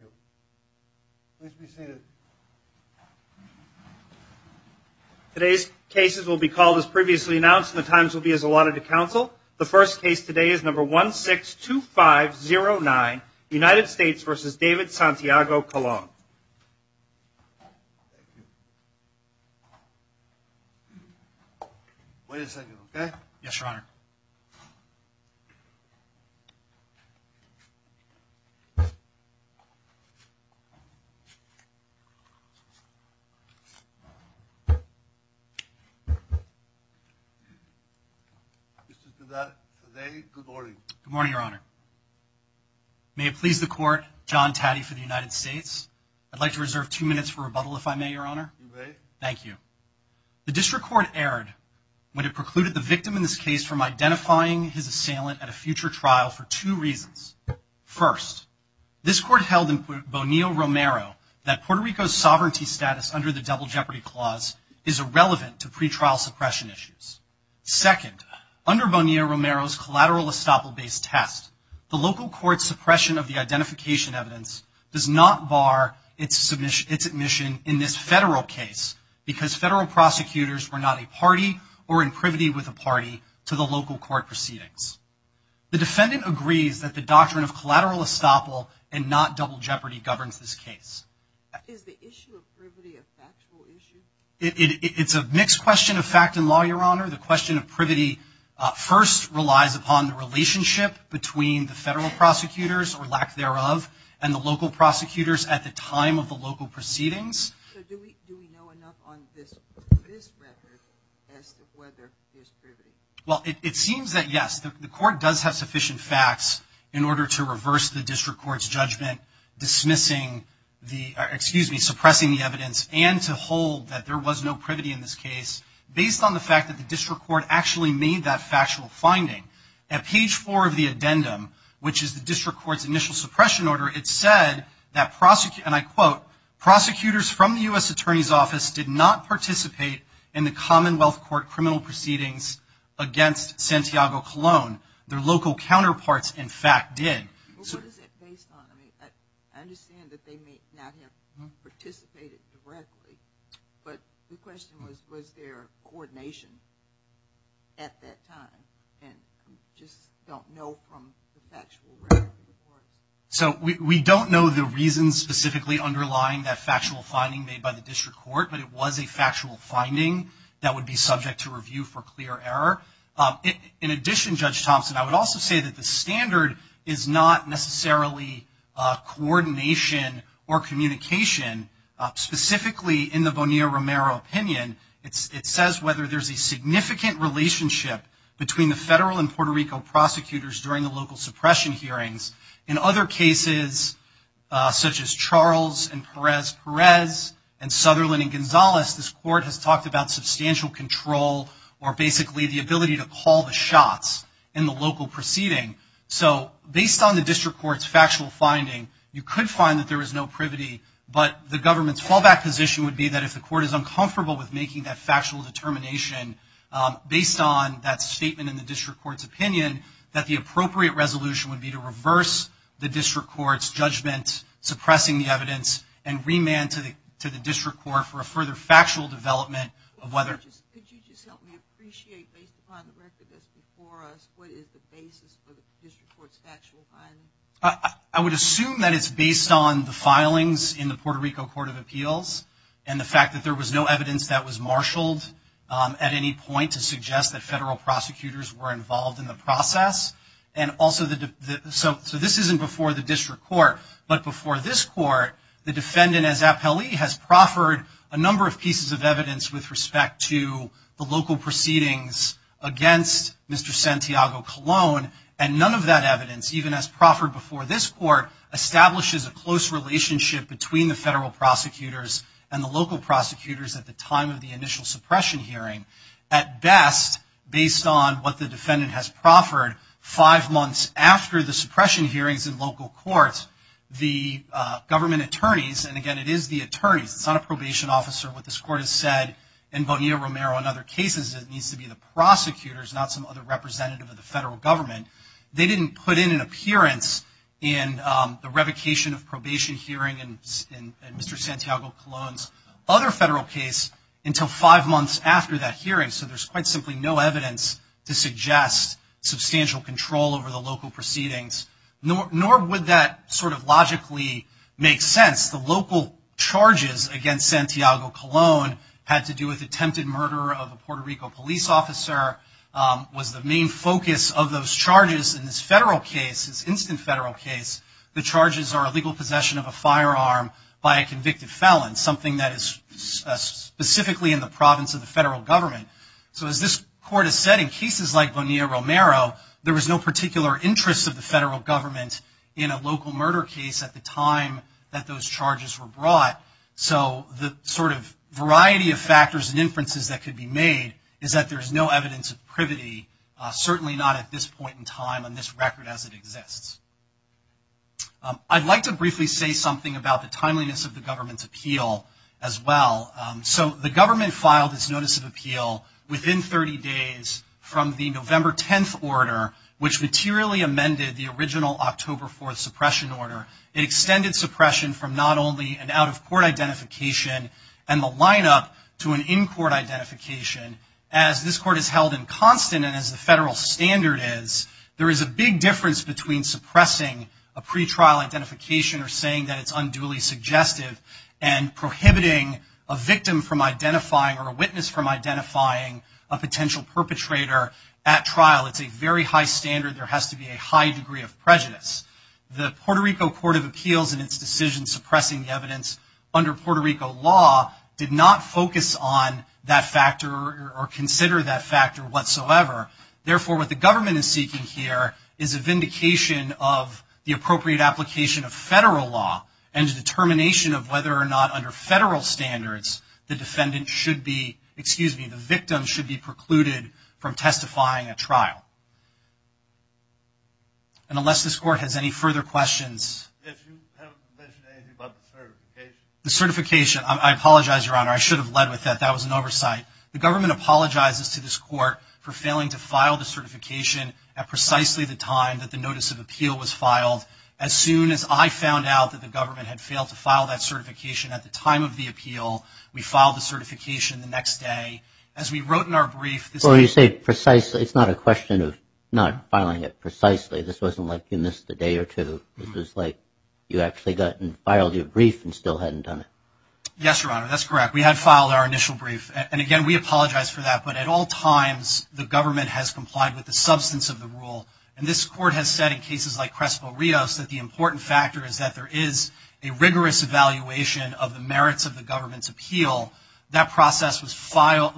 Thank you. Please be seated. Today's cases will be called as previously announced, and the times will be as allotted to council. The first case today is number 162509, United States v. David Santiago-Colon. May it please the court, John Taddy for the United States. I'd like to reserve two minutes for rebuttal, if I may, Your Honor. You may. Thank you. The district court erred when it precluded the victim in this case from identifying his assailant at a future trial for two reasons. First, this court held in Bonilla-Romero that Puerto Rico's sovereignty status under the double jeopardy clause is irrelevant to pretrial suppression issues. Second, under Bonilla-Romero's collateral estoppel-based test, the local court's suppression of the identification evidence does not bar its admission in this federal case because federal prosecutors were not a party or in privity with a party to the local court proceedings. The defendant agrees that the doctrine of collateral estoppel and not double jeopardy governs this case. Is the issue of privity a factual issue? It's a mixed question of fact and law, Your Honor. The question of privity first relies upon the relationship between the federal prosecutors, or lack thereof, and the local prosecutors at the time of the local proceedings. So do we know enough on this record as to whether there's privity? Well, it seems that yes. The court does have sufficient facts in order to reverse the district court's judgment dismissing the, excuse me, suppressing the evidence and to hold that there was no privity in this case based on the fact that the district court actually made that factual finding. At page four of the addendum, which is the district court's initial suppression order, it said that, and I quote, prosecutors from the U.S. Attorney's Office did not participate in the Commonwealth Court criminal proceedings against Santiago Colon. Their local counterparts, in fact, did. Well, what is that based on? I mean, I understand that they may not have participated directly, but the question was, was there coordination at that time? And I just don't know from the factual record. So we don't know the reasons specifically underlying that factual finding made by the district court, but it was a factual finding that would be subject to review for clear error. In addition, Judge Thompson, I would also say that the standard is not necessarily coordination or communication. Specifically in the Bonilla-Romero opinion, it says whether there's a significant relationship between the federal and Puerto Rico prosecutors during the local suppression hearings. In other cases, such as Charles and Perez-Perez and Sutherland and Gonzalez, this court has talked about substantial control or basically the ability to call the shots in the local proceeding. So based on the district court's factual finding, you could find that there was no privity, but the government's fallback position would be that if the court is uncomfortable with making that factual determination, based on that statement in the district court's opinion, that the appropriate resolution would be to reverse the district court's judgment, suppressing the evidence, and remand to the district court for a further factual development of whether- Could you just help me appreciate, based upon the record that's before us, what is the basis for the district court's factual finding? I would assume that it's based on the filings in the Puerto Rico Court of Appeals and the fact that there was no evidence that was marshaled at any point to suggest that federal prosecutors were involved in the process. So this isn't before the district court, but before this court, the defendant as appellee has proffered a number of pieces of evidence with respect to the local proceedings against Mr. Santiago Colon, and none of that evidence, even as proffered before this court, establishes a close relationship between the federal prosecutors and the local prosecutors at the time of the initial suppression hearing. At best, based on what the defendant has proffered five months after the suppression hearings in local courts, the government attorneys, and again, it is the attorneys, it's not a probation officer, what this court has said in Bonilla-Romero and other cases, it needs to be the prosecutors, not some other representative of the federal government. They didn't put in an appearance in the revocation of probation hearing in Mr. Santiago Colon's other federal case until five months after that hearing, so there's quite simply no evidence to suggest substantial control over the local proceedings, nor would that sort of logically make sense. The local charges against Santiago Colon had to do with attempted murder of a Puerto Rico police officer, was the main focus of those charges in this federal case, this instant federal case, the charges are illegal possession of a firearm by a convicted felon, something that is specifically in the province of the federal government. So as this court has said, in cases like Bonilla-Romero, there was no particular interest of the federal government in a local murder case at the time that those charges were brought, so the sort of variety of factors and inferences that could be made is that there's no evidence of privity, certainly not at this point in time on this record as it exists. I'd like to briefly say something about the timeliness of the government's appeal as well. So the government filed its notice of appeal within 30 days from the November 10th order, which materially amended the original October 4th suppression order. It extended suppression from not only an out-of-court identification and the lineup to an in-court identification. As this court has held in constant and as the federal standard is, there is a big difference between suppressing a pretrial identification or saying that it's unduly suggestive and prohibiting a victim from identifying or a witness from identifying a potential perpetrator at trial. It's a very high standard. There has to be a high degree of prejudice. The Puerto Rico Court of Appeals in its decision suppressing the evidence under Puerto Rico law did not focus on that factor or consider that factor whatsoever. Therefore, what the government is seeking here is a vindication of the appropriate application of federal law and a determination of whether or not under federal standards the defendant should be, excuse me, the victim should be precluded from testifying at trial. And unless this court has any further questions. If you haven't mentioned anything about the certification. The certification. I apologize, Your Honor. I should have led with that. That was an oversight. The government apologizes to this court for failing to file the certification at precisely the time that the notice of appeal was filed. As soon as I found out that the government had failed to file that certification at the time of the appeal, we filed the certification the next day. As we wrote in our brief. Well, you say precisely. It's not a question of not filing it precisely. This wasn't like you missed a day or two. This was like you actually got and filed your brief and still hadn't done it. Yes, Your Honor. That's correct. We had filed our initial brief. And again, we apologize for that. But at all times, the government has complied with the substance of the rule. And this court has said in cases like Crespo-Rios that the important factor is that there is a rigorous evaluation of the merits of the government's appeal. That process was followed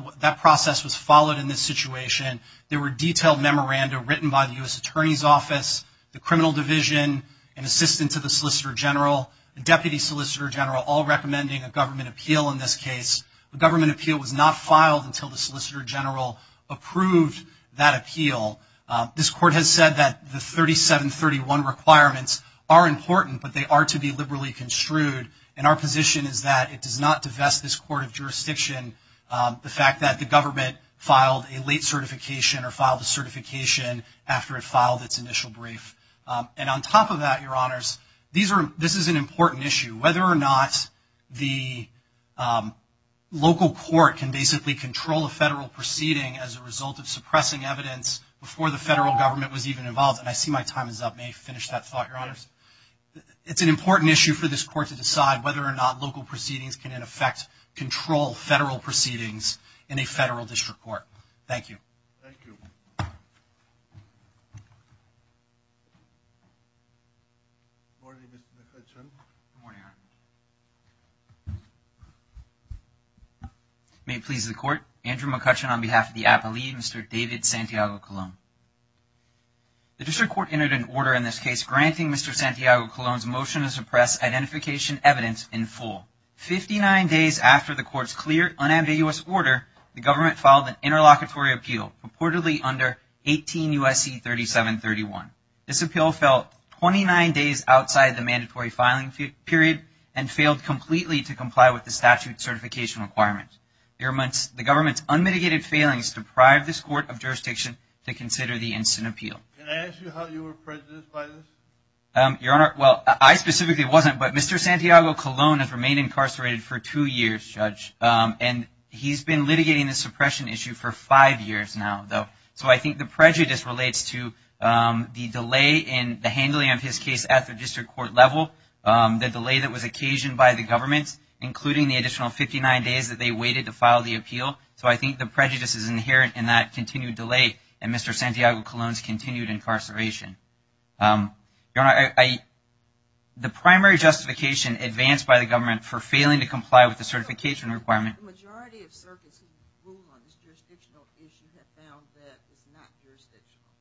in this situation. There were detailed memoranda written by the U.S. Attorney's Office, the Criminal Division, an assistant to the Solicitor General, the Deputy Solicitor General, all recommending a government appeal in this case. The government appeal was not filed until the Solicitor General approved that appeal. This court has said that the 3731 requirements are important, but they are to be liberally construed. And our position is that it does not divest this court of jurisdiction, the fact that the government filed a late certification or filed a certification after it filed its initial brief. And on top of that, Your Honors, this is an important issue. Whether or not the local court can basically control a federal proceeding as a result of suppressing evidence before the federal government was even involved. And I see my time is up. May I finish that thought, Your Honors? It's an important issue for this court to decide whether or not local proceedings can, in effect, control federal proceedings in a federal district court. Thank you. Thank you. Good morning, Mr. McCutcheon. Good morning, Your Honor. May it please the Court. Andrew McCutcheon on behalf of the Appellee, Mr. David Santiago-Colón. The district court entered an order in this case granting Mr. Santiago-Colón's motion to suppress identification evidence in full. Fifty-nine days after the court's clear, unambiguous order, the government filed an interlocutory appeal purportedly under 18 U.S.C. 3731. This appeal fell 29 days outside the mandatory filing period and failed completely to comply with the statute certification requirements. The government's unmitigated failings deprived this court of jurisdiction to consider the instant appeal. Can I ask you how you were prejudiced by this? Your Honor, well, I specifically wasn't. But Mr. Santiago-Colón has remained incarcerated for two years, Judge, and he's been litigating the suppression issue for five years now. So I think the prejudice relates to the delay in the handling of his case at the district court level, the delay that was occasioned by the government, including the additional 59 days that they waited to file the appeal. So I think the prejudice is inherent in that continued delay in Mr. Santiago-Colón's continued incarceration. Your Honor, the primary justification advanced by the government for failing to comply with the certification requirement The majority of circuits who rule on this jurisdictional issue have found that it's not jurisdictional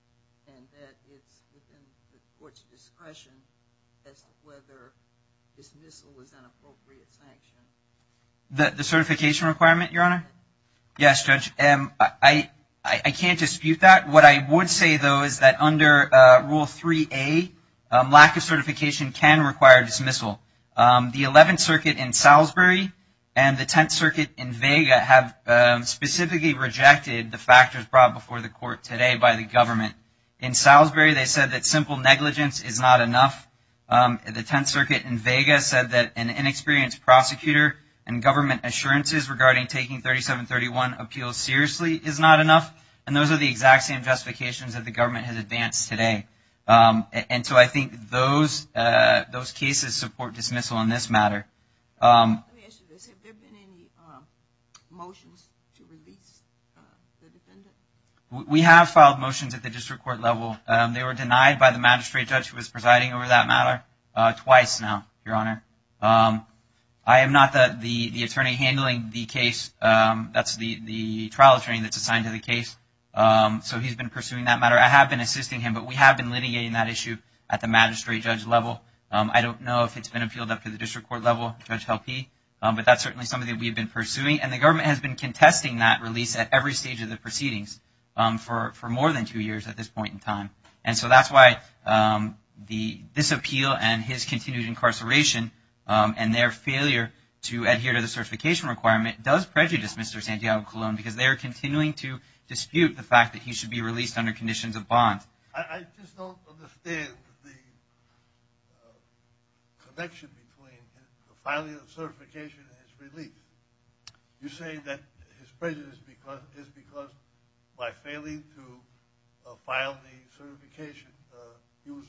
and that it's within the court's discretion as to whether dismissal is an appropriate sanction. The certification requirement, Your Honor? Yes, Judge. I can't dispute that. What I would say, though, is that under Rule 3A, lack of certification can require dismissal. The Eleventh Circuit in Salisbury and the Tenth Circuit in Vega have specifically rejected the factors brought before the court today by the government. In Salisbury, they said that simple negligence is not enough. The Tenth Circuit in Vega said that an inexperienced prosecutor and government assurances regarding taking 3731 appeals seriously is not enough. And those are the exact same justifications that the government has advanced today. And so I think those cases support dismissal on this matter. Let me ask you this. Have there been any motions to release the defendant? We have filed motions at the district court level. They were denied by the magistrate judge who was presiding over that matter twice now, Your Honor. I am not the attorney handling the case. That's the trial attorney that's assigned to the case. So he's been pursuing that matter. I have been assisting him, but we have been litigating that issue at the magistrate judge level. I don't know if it's been appealed up to the district court level, Judge Helpe. But that's certainly something we've been pursuing. And the government has been contesting that release at every stage of the proceedings for more than two years at this point in time. And so that's why this appeal and his continued incarceration and their failure to adhere to the certification requirement does prejudice Mr. Santiago Colon because they are continuing to dispute the fact that he should be released under conditions of bond. I just don't understand the connection between the filing of certification and his release. You're saying that his prejudice is because by failing to file the certification he was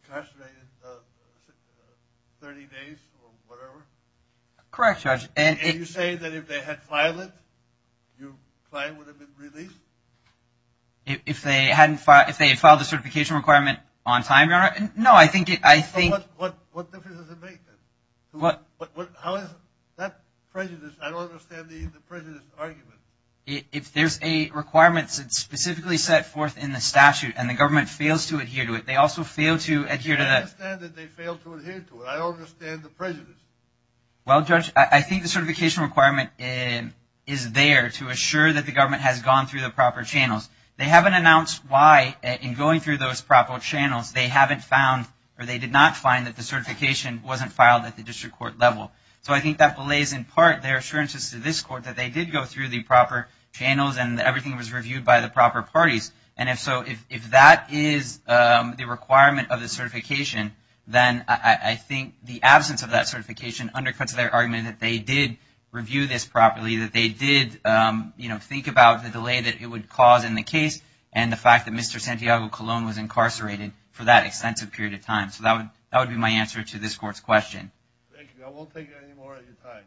incarcerated 30 days or whatever? Correct, Judge. And you're saying that if they had filed it, your client would have been released? If they had filed the certification requirement on time, Your Honor? No, I think it – I think – What difference does it make then? How is that prejudice – I don't understand the prejudice argument. If there's a requirement specifically set forth in the statute and the government fails to adhere to it, they also fail to adhere to the – I understand that they fail to adhere to it. I don't understand the prejudice. Well, Judge, I think the certification requirement is there to assure that the government has gone through the proper channels. They haven't announced why in going through those proper channels they haven't found or they did not find that the certification wasn't filed at the district court level. So I think that belays in part their assurances to this court that they did go through the proper channels and everything was reviewed by the proper parties. And if so, if that is the requirement of the certification, then I think the absence of that certification undercuts their argument that they did review this properly, that they did, you know, think about the delay that it would cause in the case and the fact that Mr. Santiago Colon was incarcerated for that extensive period of time. So that would be my answer to this court's question. Thank you. I won't take any more of your time.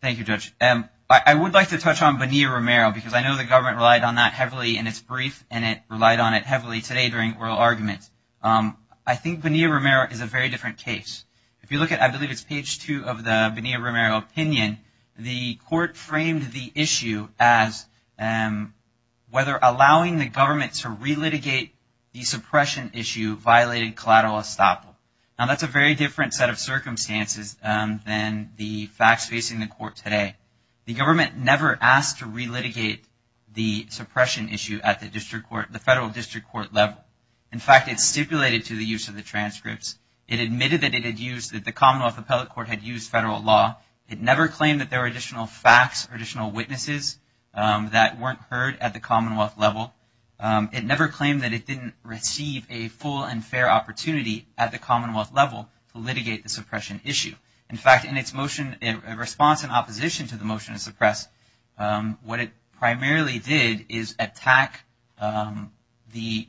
Thank you, Judge. I would like to touch on Bonilla-Romero because I know the government relied on that heavily in its brief and it relied on it heavily today during oral arguments. I think Bonilla-Romero is a very different case. If you look at, I believe it's page two of the Bonilla-Romero opinion, the court framed the issue as whether allowing the government to relitigate the suppression issue violated collateral estoppel. Now, that's a very different set of circumstances than the facts facing the court today. The government never asked to relitigate the suppression issue at the federal district court level. In fact, it stipulated to the use of the transcripts. It admitted that it had used, that the Commonwealth Appellate Court had used federal law. It never claimed that there were additional facts or additional witnesses that weren't heard at the Commonwealth level. It never claimed that it didn't receive a full and fair opportunity at the Commonwealth level to litigate the suppression issue. In fact, in its motion in response and opposition to the motion to suppress, what it primarily did is attack the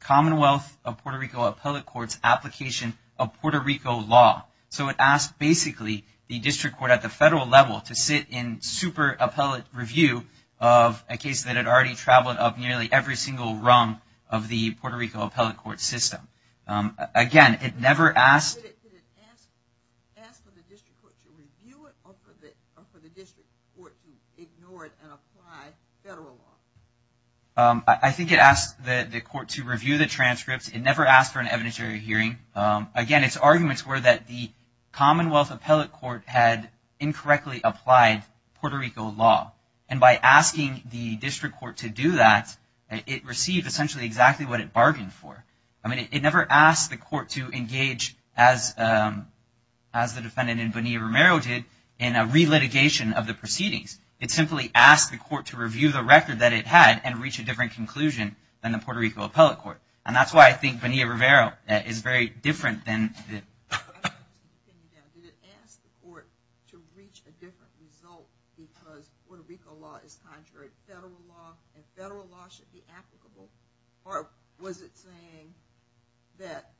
Commonwealth of Puerto Rico Appellate Court's application of Puerto Rico law. So, it asked basically the district court at the federal level to sit in super appellate review of a case that had already traveled up nearly every single rung of the Puerto Rico Appellate Court system. Again, it never asked. Did it ask for the district court to review it or for the district court to ignore it and apply federal law? I think it asked the court to review the transcripts. It never asked for an evidentiary hearing. Again, its arguments were that the Commonwealth Appellate Court had incorrectly applied Puerto Rico law. And by asking the district court to do that, it received essentially exactly what it bargained for. I mean, it never asked the court to engage, as the defendant in Bonilla-Romero did, in a relitigation of the proceedings. It simply asked the court to review the record that it had and reach a different conclusion than the Puerto Rico Appellate Court. And that's why I think Bonilla-Romero is very different than the- Did it ask the court to reach a different result because Puerto Rico law is contrary to federal law and federal law should be applicable? Or was it saying that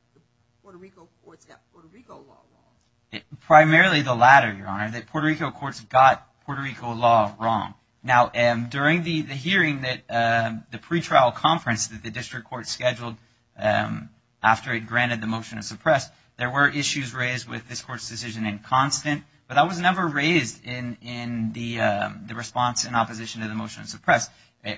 Puerto Rico courts got Puerto Rico law wrong? Primarily the latter, Your Honor, that Puerto Rico courts got Puerto Rico law wrong. Now, during the hearing, the pretrial conference that the district court scheduled after it granted the motion to suppress, there were issues raised with this court's decision in Constant. But that was never raised in the response in opposition to the motion to suppress.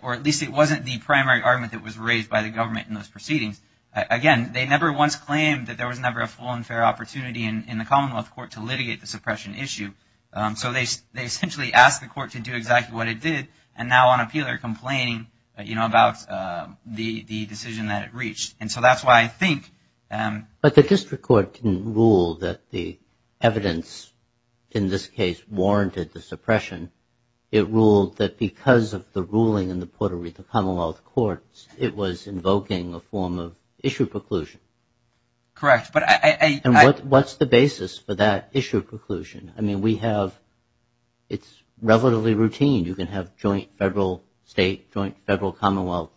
Or at least it wasn't the primary argument that was raised by the government in those proceedings. Again, they never once claimed that there was never a full and fair opportunity in the Commonwealth court to litigate the suppression issue. So they essentially asked the court to do exactly what it did. And now on appeal they're complaining, you know, about the decision that it reached. And so that's why I think- But the district court didn't rule that the evidence in this case warranted the suppression. It ruled that because of the ruling in the Puerto Rico Commonwealth Court, it was invoking a form of issue preclusion. Correct. And what's the basis for that issue preclusion? I mean, we have- it's relatively routine. You can have joint federal state, joint federal Commonwealth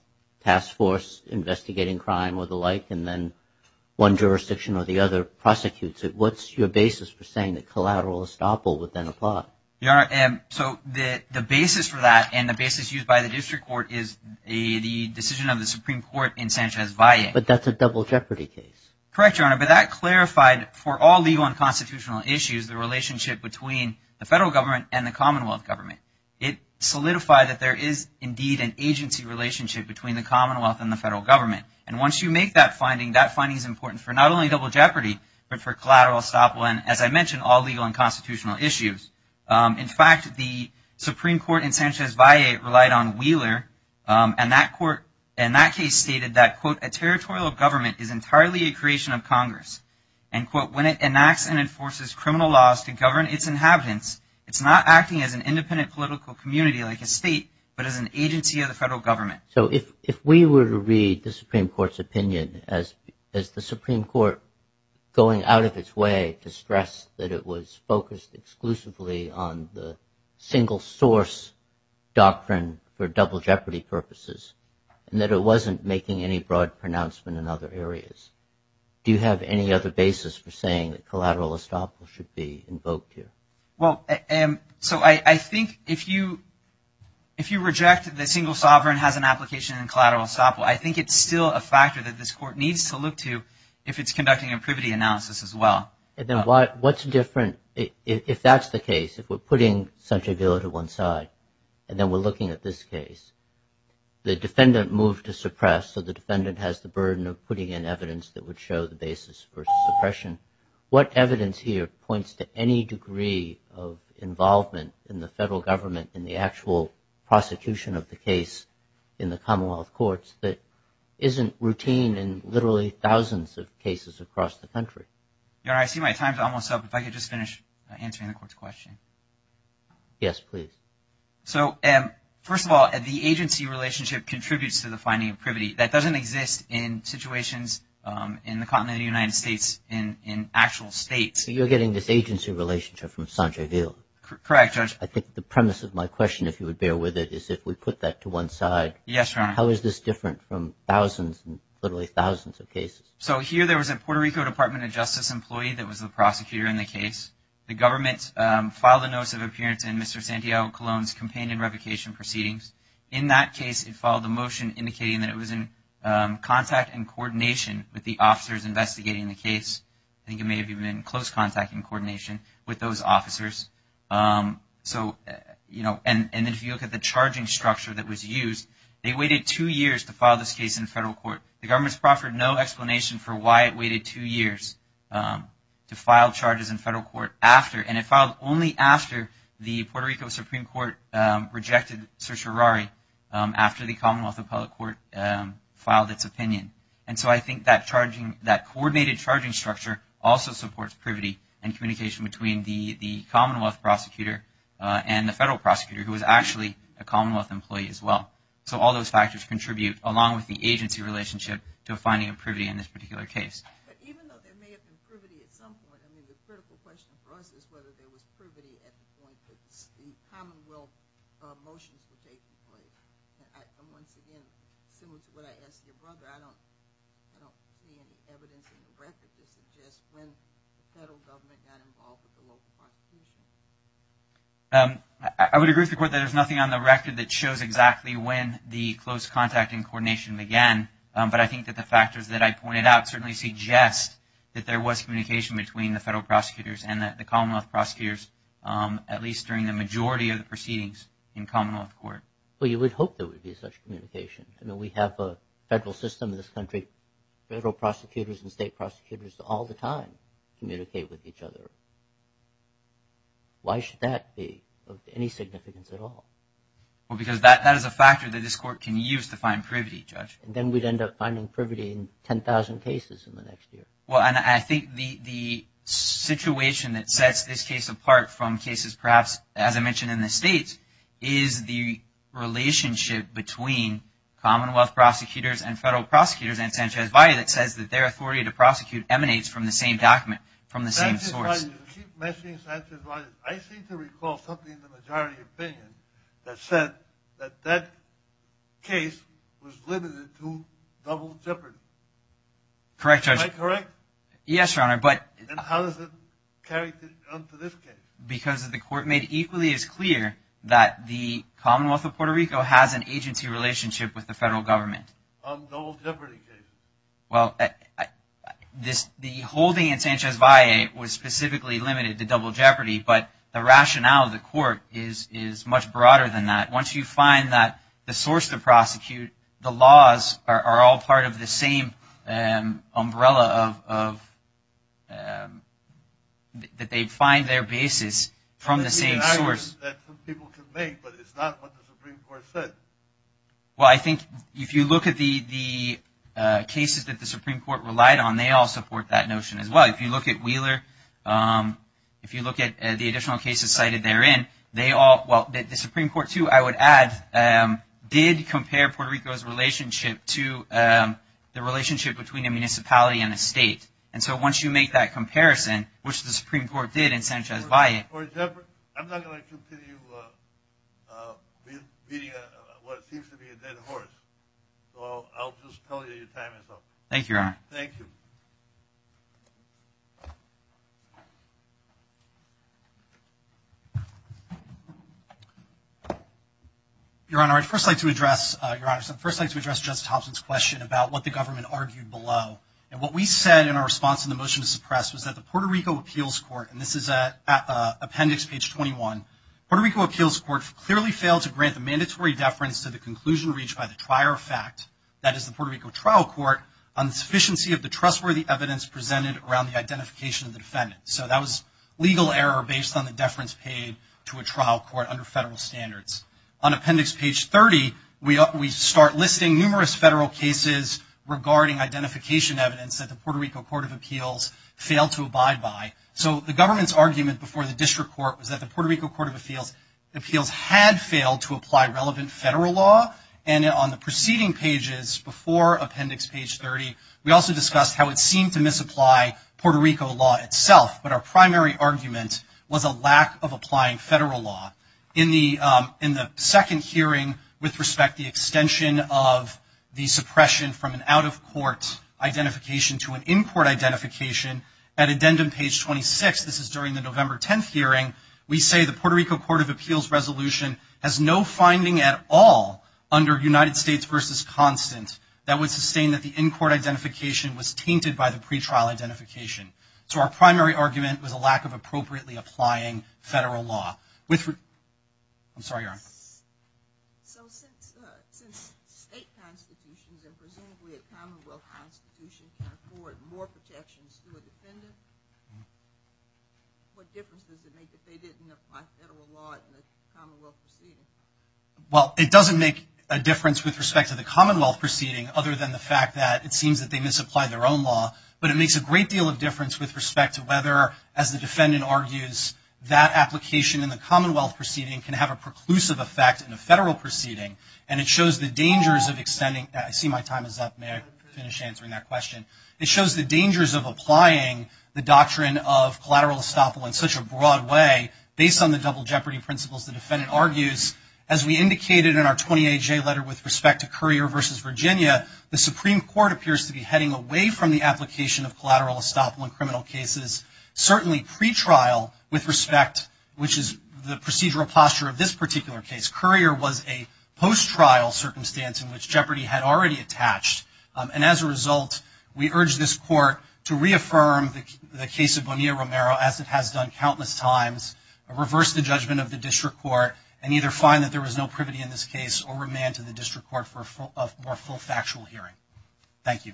task force investigating crime or the like, and then one jurisdiction or the other prosecutes it. What's your basis for saying that collateral estoppel would then apply? Your Honor, so the basis for that and the basis used by the district court is the decision of the Supreme Court in Sanchez-Valle. But that's a double jeopardy case. Correct, Your Honor. But that clarified for all legal and constitutional issues the relationship between the federal government and the Commonwealth government. It solidified that there is indeed an agency relationship between the Commonwealth and the federal government. And once you make that finding, that finding is important for not only double jeopardy but for collateral estoppel and, as I mentioned, all legal and constitutional issues. In fact, the Supreme Court in Sanchez-Valle relied on Wheeler. And that court in that case stated that, quote, a territorial government is entirely a creation of Congress. And, quote, when it enacts and enforces criminal laws to govern its inhabitants, it's not acting as an independent political community like a state but as an agency of the federal government. So if we were to read the Supreme Court's opinion as the Supreme Court going out of its way to stress that it was focused exclusively on the single source doctrine for double jeopardy purposes and that it wasn't making any broad pronouncement in other areas, do you have any other basis for saying that collateral estoppel should be invoked here? Well, so I think if you reject the single sovereign has an application in collateral estoppel, I think it's still a factor that this court needs to look to if it's conducting a privity analysis as well. And then what's different if that's the case, if we're putting Sanchez-Valle to one side and then we're looking at this case, the defendant moved to suppress, so the defendant has the burden of putting in evidence that would show the basis for suppression. What evidence here points to any degree of involvement in the federal government in the actual prosecution of the case in the Commonwealth Courts that isn't routine in literally thousands of cases across the country? Your Honor, I see my time's almost up. If I could just finish answering the court's question. Yes, please. So first of all, the agency relationship contributes to the finding of privity. That doesn't exist in situations in the continent of the United States in actual states. So you're getting this agency relationship from Sanchez-Valle? Correct, Judge. I think the premise of my question, if you would bear with it, is if we put that to one side. Yes, Your Honor. How is this different from thousands and literally thousands of cases? So here there was a Puerto Rico Department of Justice employee that was the prosecutor in the case. The government filed a notice of appearance in Mr. Santiago Colon's campaign and revocation proceedings. In that case, it followed a motion indicating that it was in contact and coordination with the officers investigating the case. I think it may have even been in close contact and coordination with those officers. So, you know, and if you look at the charging structure that was used, they waited two years to file this case in federal court. The government's proffered no explanation for why it waited two years to file charges in federal court after, and it filed only after the Puerto Rico Supreme Court rejected certiorari, after the Commonwealth Appellate Court filed its opinion. And so I think that charging, that coordinated charging structure, also supports privity and communication between the Commonwealth prosecutor and the federal prosecutor, who is actually a Commonwealth employee as well. So all those factors contribute, along with the agency relationship, to finding a privity in this particular case. But even though there may have been privity at some point, I mean, the critical question for us is whether there was privity at the point that the Commonwealth motions were taken. And once again, similar to what I asked your brother, I don't see any evidence in the record to suggest when the federal government got involved with the local prosecution. I would agree with the court that there's nothing on the record that shows exactly when the close contact and coordination began, but I think that the factors that I pointed out certainly suggest that there was communication between the federal prosecutors and the Commonwealth prosecutors, at least during the majority of the proceedings in Commonwealth court. Well, you would hope there would be such communication. I mean, we have a federal system in this country. Federal prosecutors and state prosecutors all the time communicate with each other. Why should that be of any significance at all? Well, because that is a factor that this court can use to find privity, Judge. And then we'd end up finding privity in 10,000 cases in the next year. Well, and I think the situation that sets this case apart from cases perhaps, as I mentioned, in the states is the relationship between Commonwealth prosecutors and federal prosecutors and Sanchez-Valle that says that their authority to prosecute emanates from the same document, from the same source. Sanchez-Valle, you keep mentioning Sanchez-Valle. I seem to recall something in the majority opinion that said that that case was limited to double jeopardy. Correct, Judge. Am I correct? Yes, Your Honor. And how does it carry on to this case? Because the court made equally as clear that the Commonwealth of Puerto Rico has an agency relationship with the federal government. On the double jeopardy case. Well, the holding in Sanchez-Valle was specifically limited to double jeopardy, but the rationale of the court is much broader than that. Once you find that the source to prosecute, the laws are all part of the same umbrella of that they find their basis from the same source. That's an argument that some people can make, but it's not what the Supreme Court said. Well, I think if you look at the cases that the Supreme Court relied on, they all support that notion as well. If you look at Wheeler, if you look at the additional cases cited therein, they all, well, the Supreme Court, too, I would add, did compare Puerto Rico's relationship to the relationship between a municipality and a state. And so once you make that comparison, which the Supreme Court did in Sanchez-Valle. I'm not going to continue beating what seems to be a dead horse. So I'll just tell you your time is up. Thank you, Your Honor. Thank you. Your Honor, I'd first like to address Justice Thompson's question about what the government argued below. And what we said in our response to the motion to suppress was that the Puerto Rico Appeals Court, and this is at appendix page 21, Puerto Rico Appeals Court clearly failed to grant the mandatory deference to the conclusion reached by the trier of fact, that is the Puerto Rico Trial Court, on the sufficiency of the trustworthy evidence presented around the identification of the defendant. So that was legal error based on the deference paid to a trial court under federal standards. On appendix page 30, we start listing numerous federal cases regarding identification evidence that the Puerto Rico Court of Appeals failed to abide by. So the government's argument before the district court was that the Puerto Rico Court of Appeals had failed to apply relevant federal law. And on the preceding pages, before appendix page 30, we also discussed how it seemed to misapply Puerto Rico law itself. But our primary argument was a lack of applying federal law. In the second hearing with respect to the extension of the suppression from an out-of-court identification to an in-court identification, at addendum page 26, this is during the November 10th hearing, we say the Puerto Rico Court of Appeals resolution has no finding at all under United States versus constant that would sustain that the in-court identification was tainted by the pretrial identification. So our primary argument was a lack of appropriately applying federal law. I'm sorry, Erin. So since state constitutions and presumably a commonwealth constitution can afford more protections to a defendant, what difference does it make if they didn't apply federal law in the commonwealth proceeding? Well, it doesn't make a difference with respect to the commonwealth proceeding, other than the fact that it seems that they misapplied their own law. But it makes a great deal of difference with respect to whether, as the defendant argues, that application in the commonwealth proceeding can have a preclusive effect in a federal proceeding. And it shows the dangers of extending – I see my time is up. May I finish answering that question? It shows the dangers of applying the doctrine of collateral estoppel in such a broad way, based on the double jeopardy principles the defendant argues. As we indicated in our 28-J letter with respect to Currier versus Virginia, the Supreme Court appears to be heading away from the application of collateral estoppel in criminal cases, certainly pretrial with respect, which is the procedural posture of this particular case. Currier was a post-trial circumstance in which jeopardy had already attached. And as a result, we urge this Court to reaffirm the case of Bonilla-Romero, as it has done countless times, reverse the judgment of the district court, and either find that there was no privity in this case or remand to the district court for a full factual hearing. Thank you. Thank you.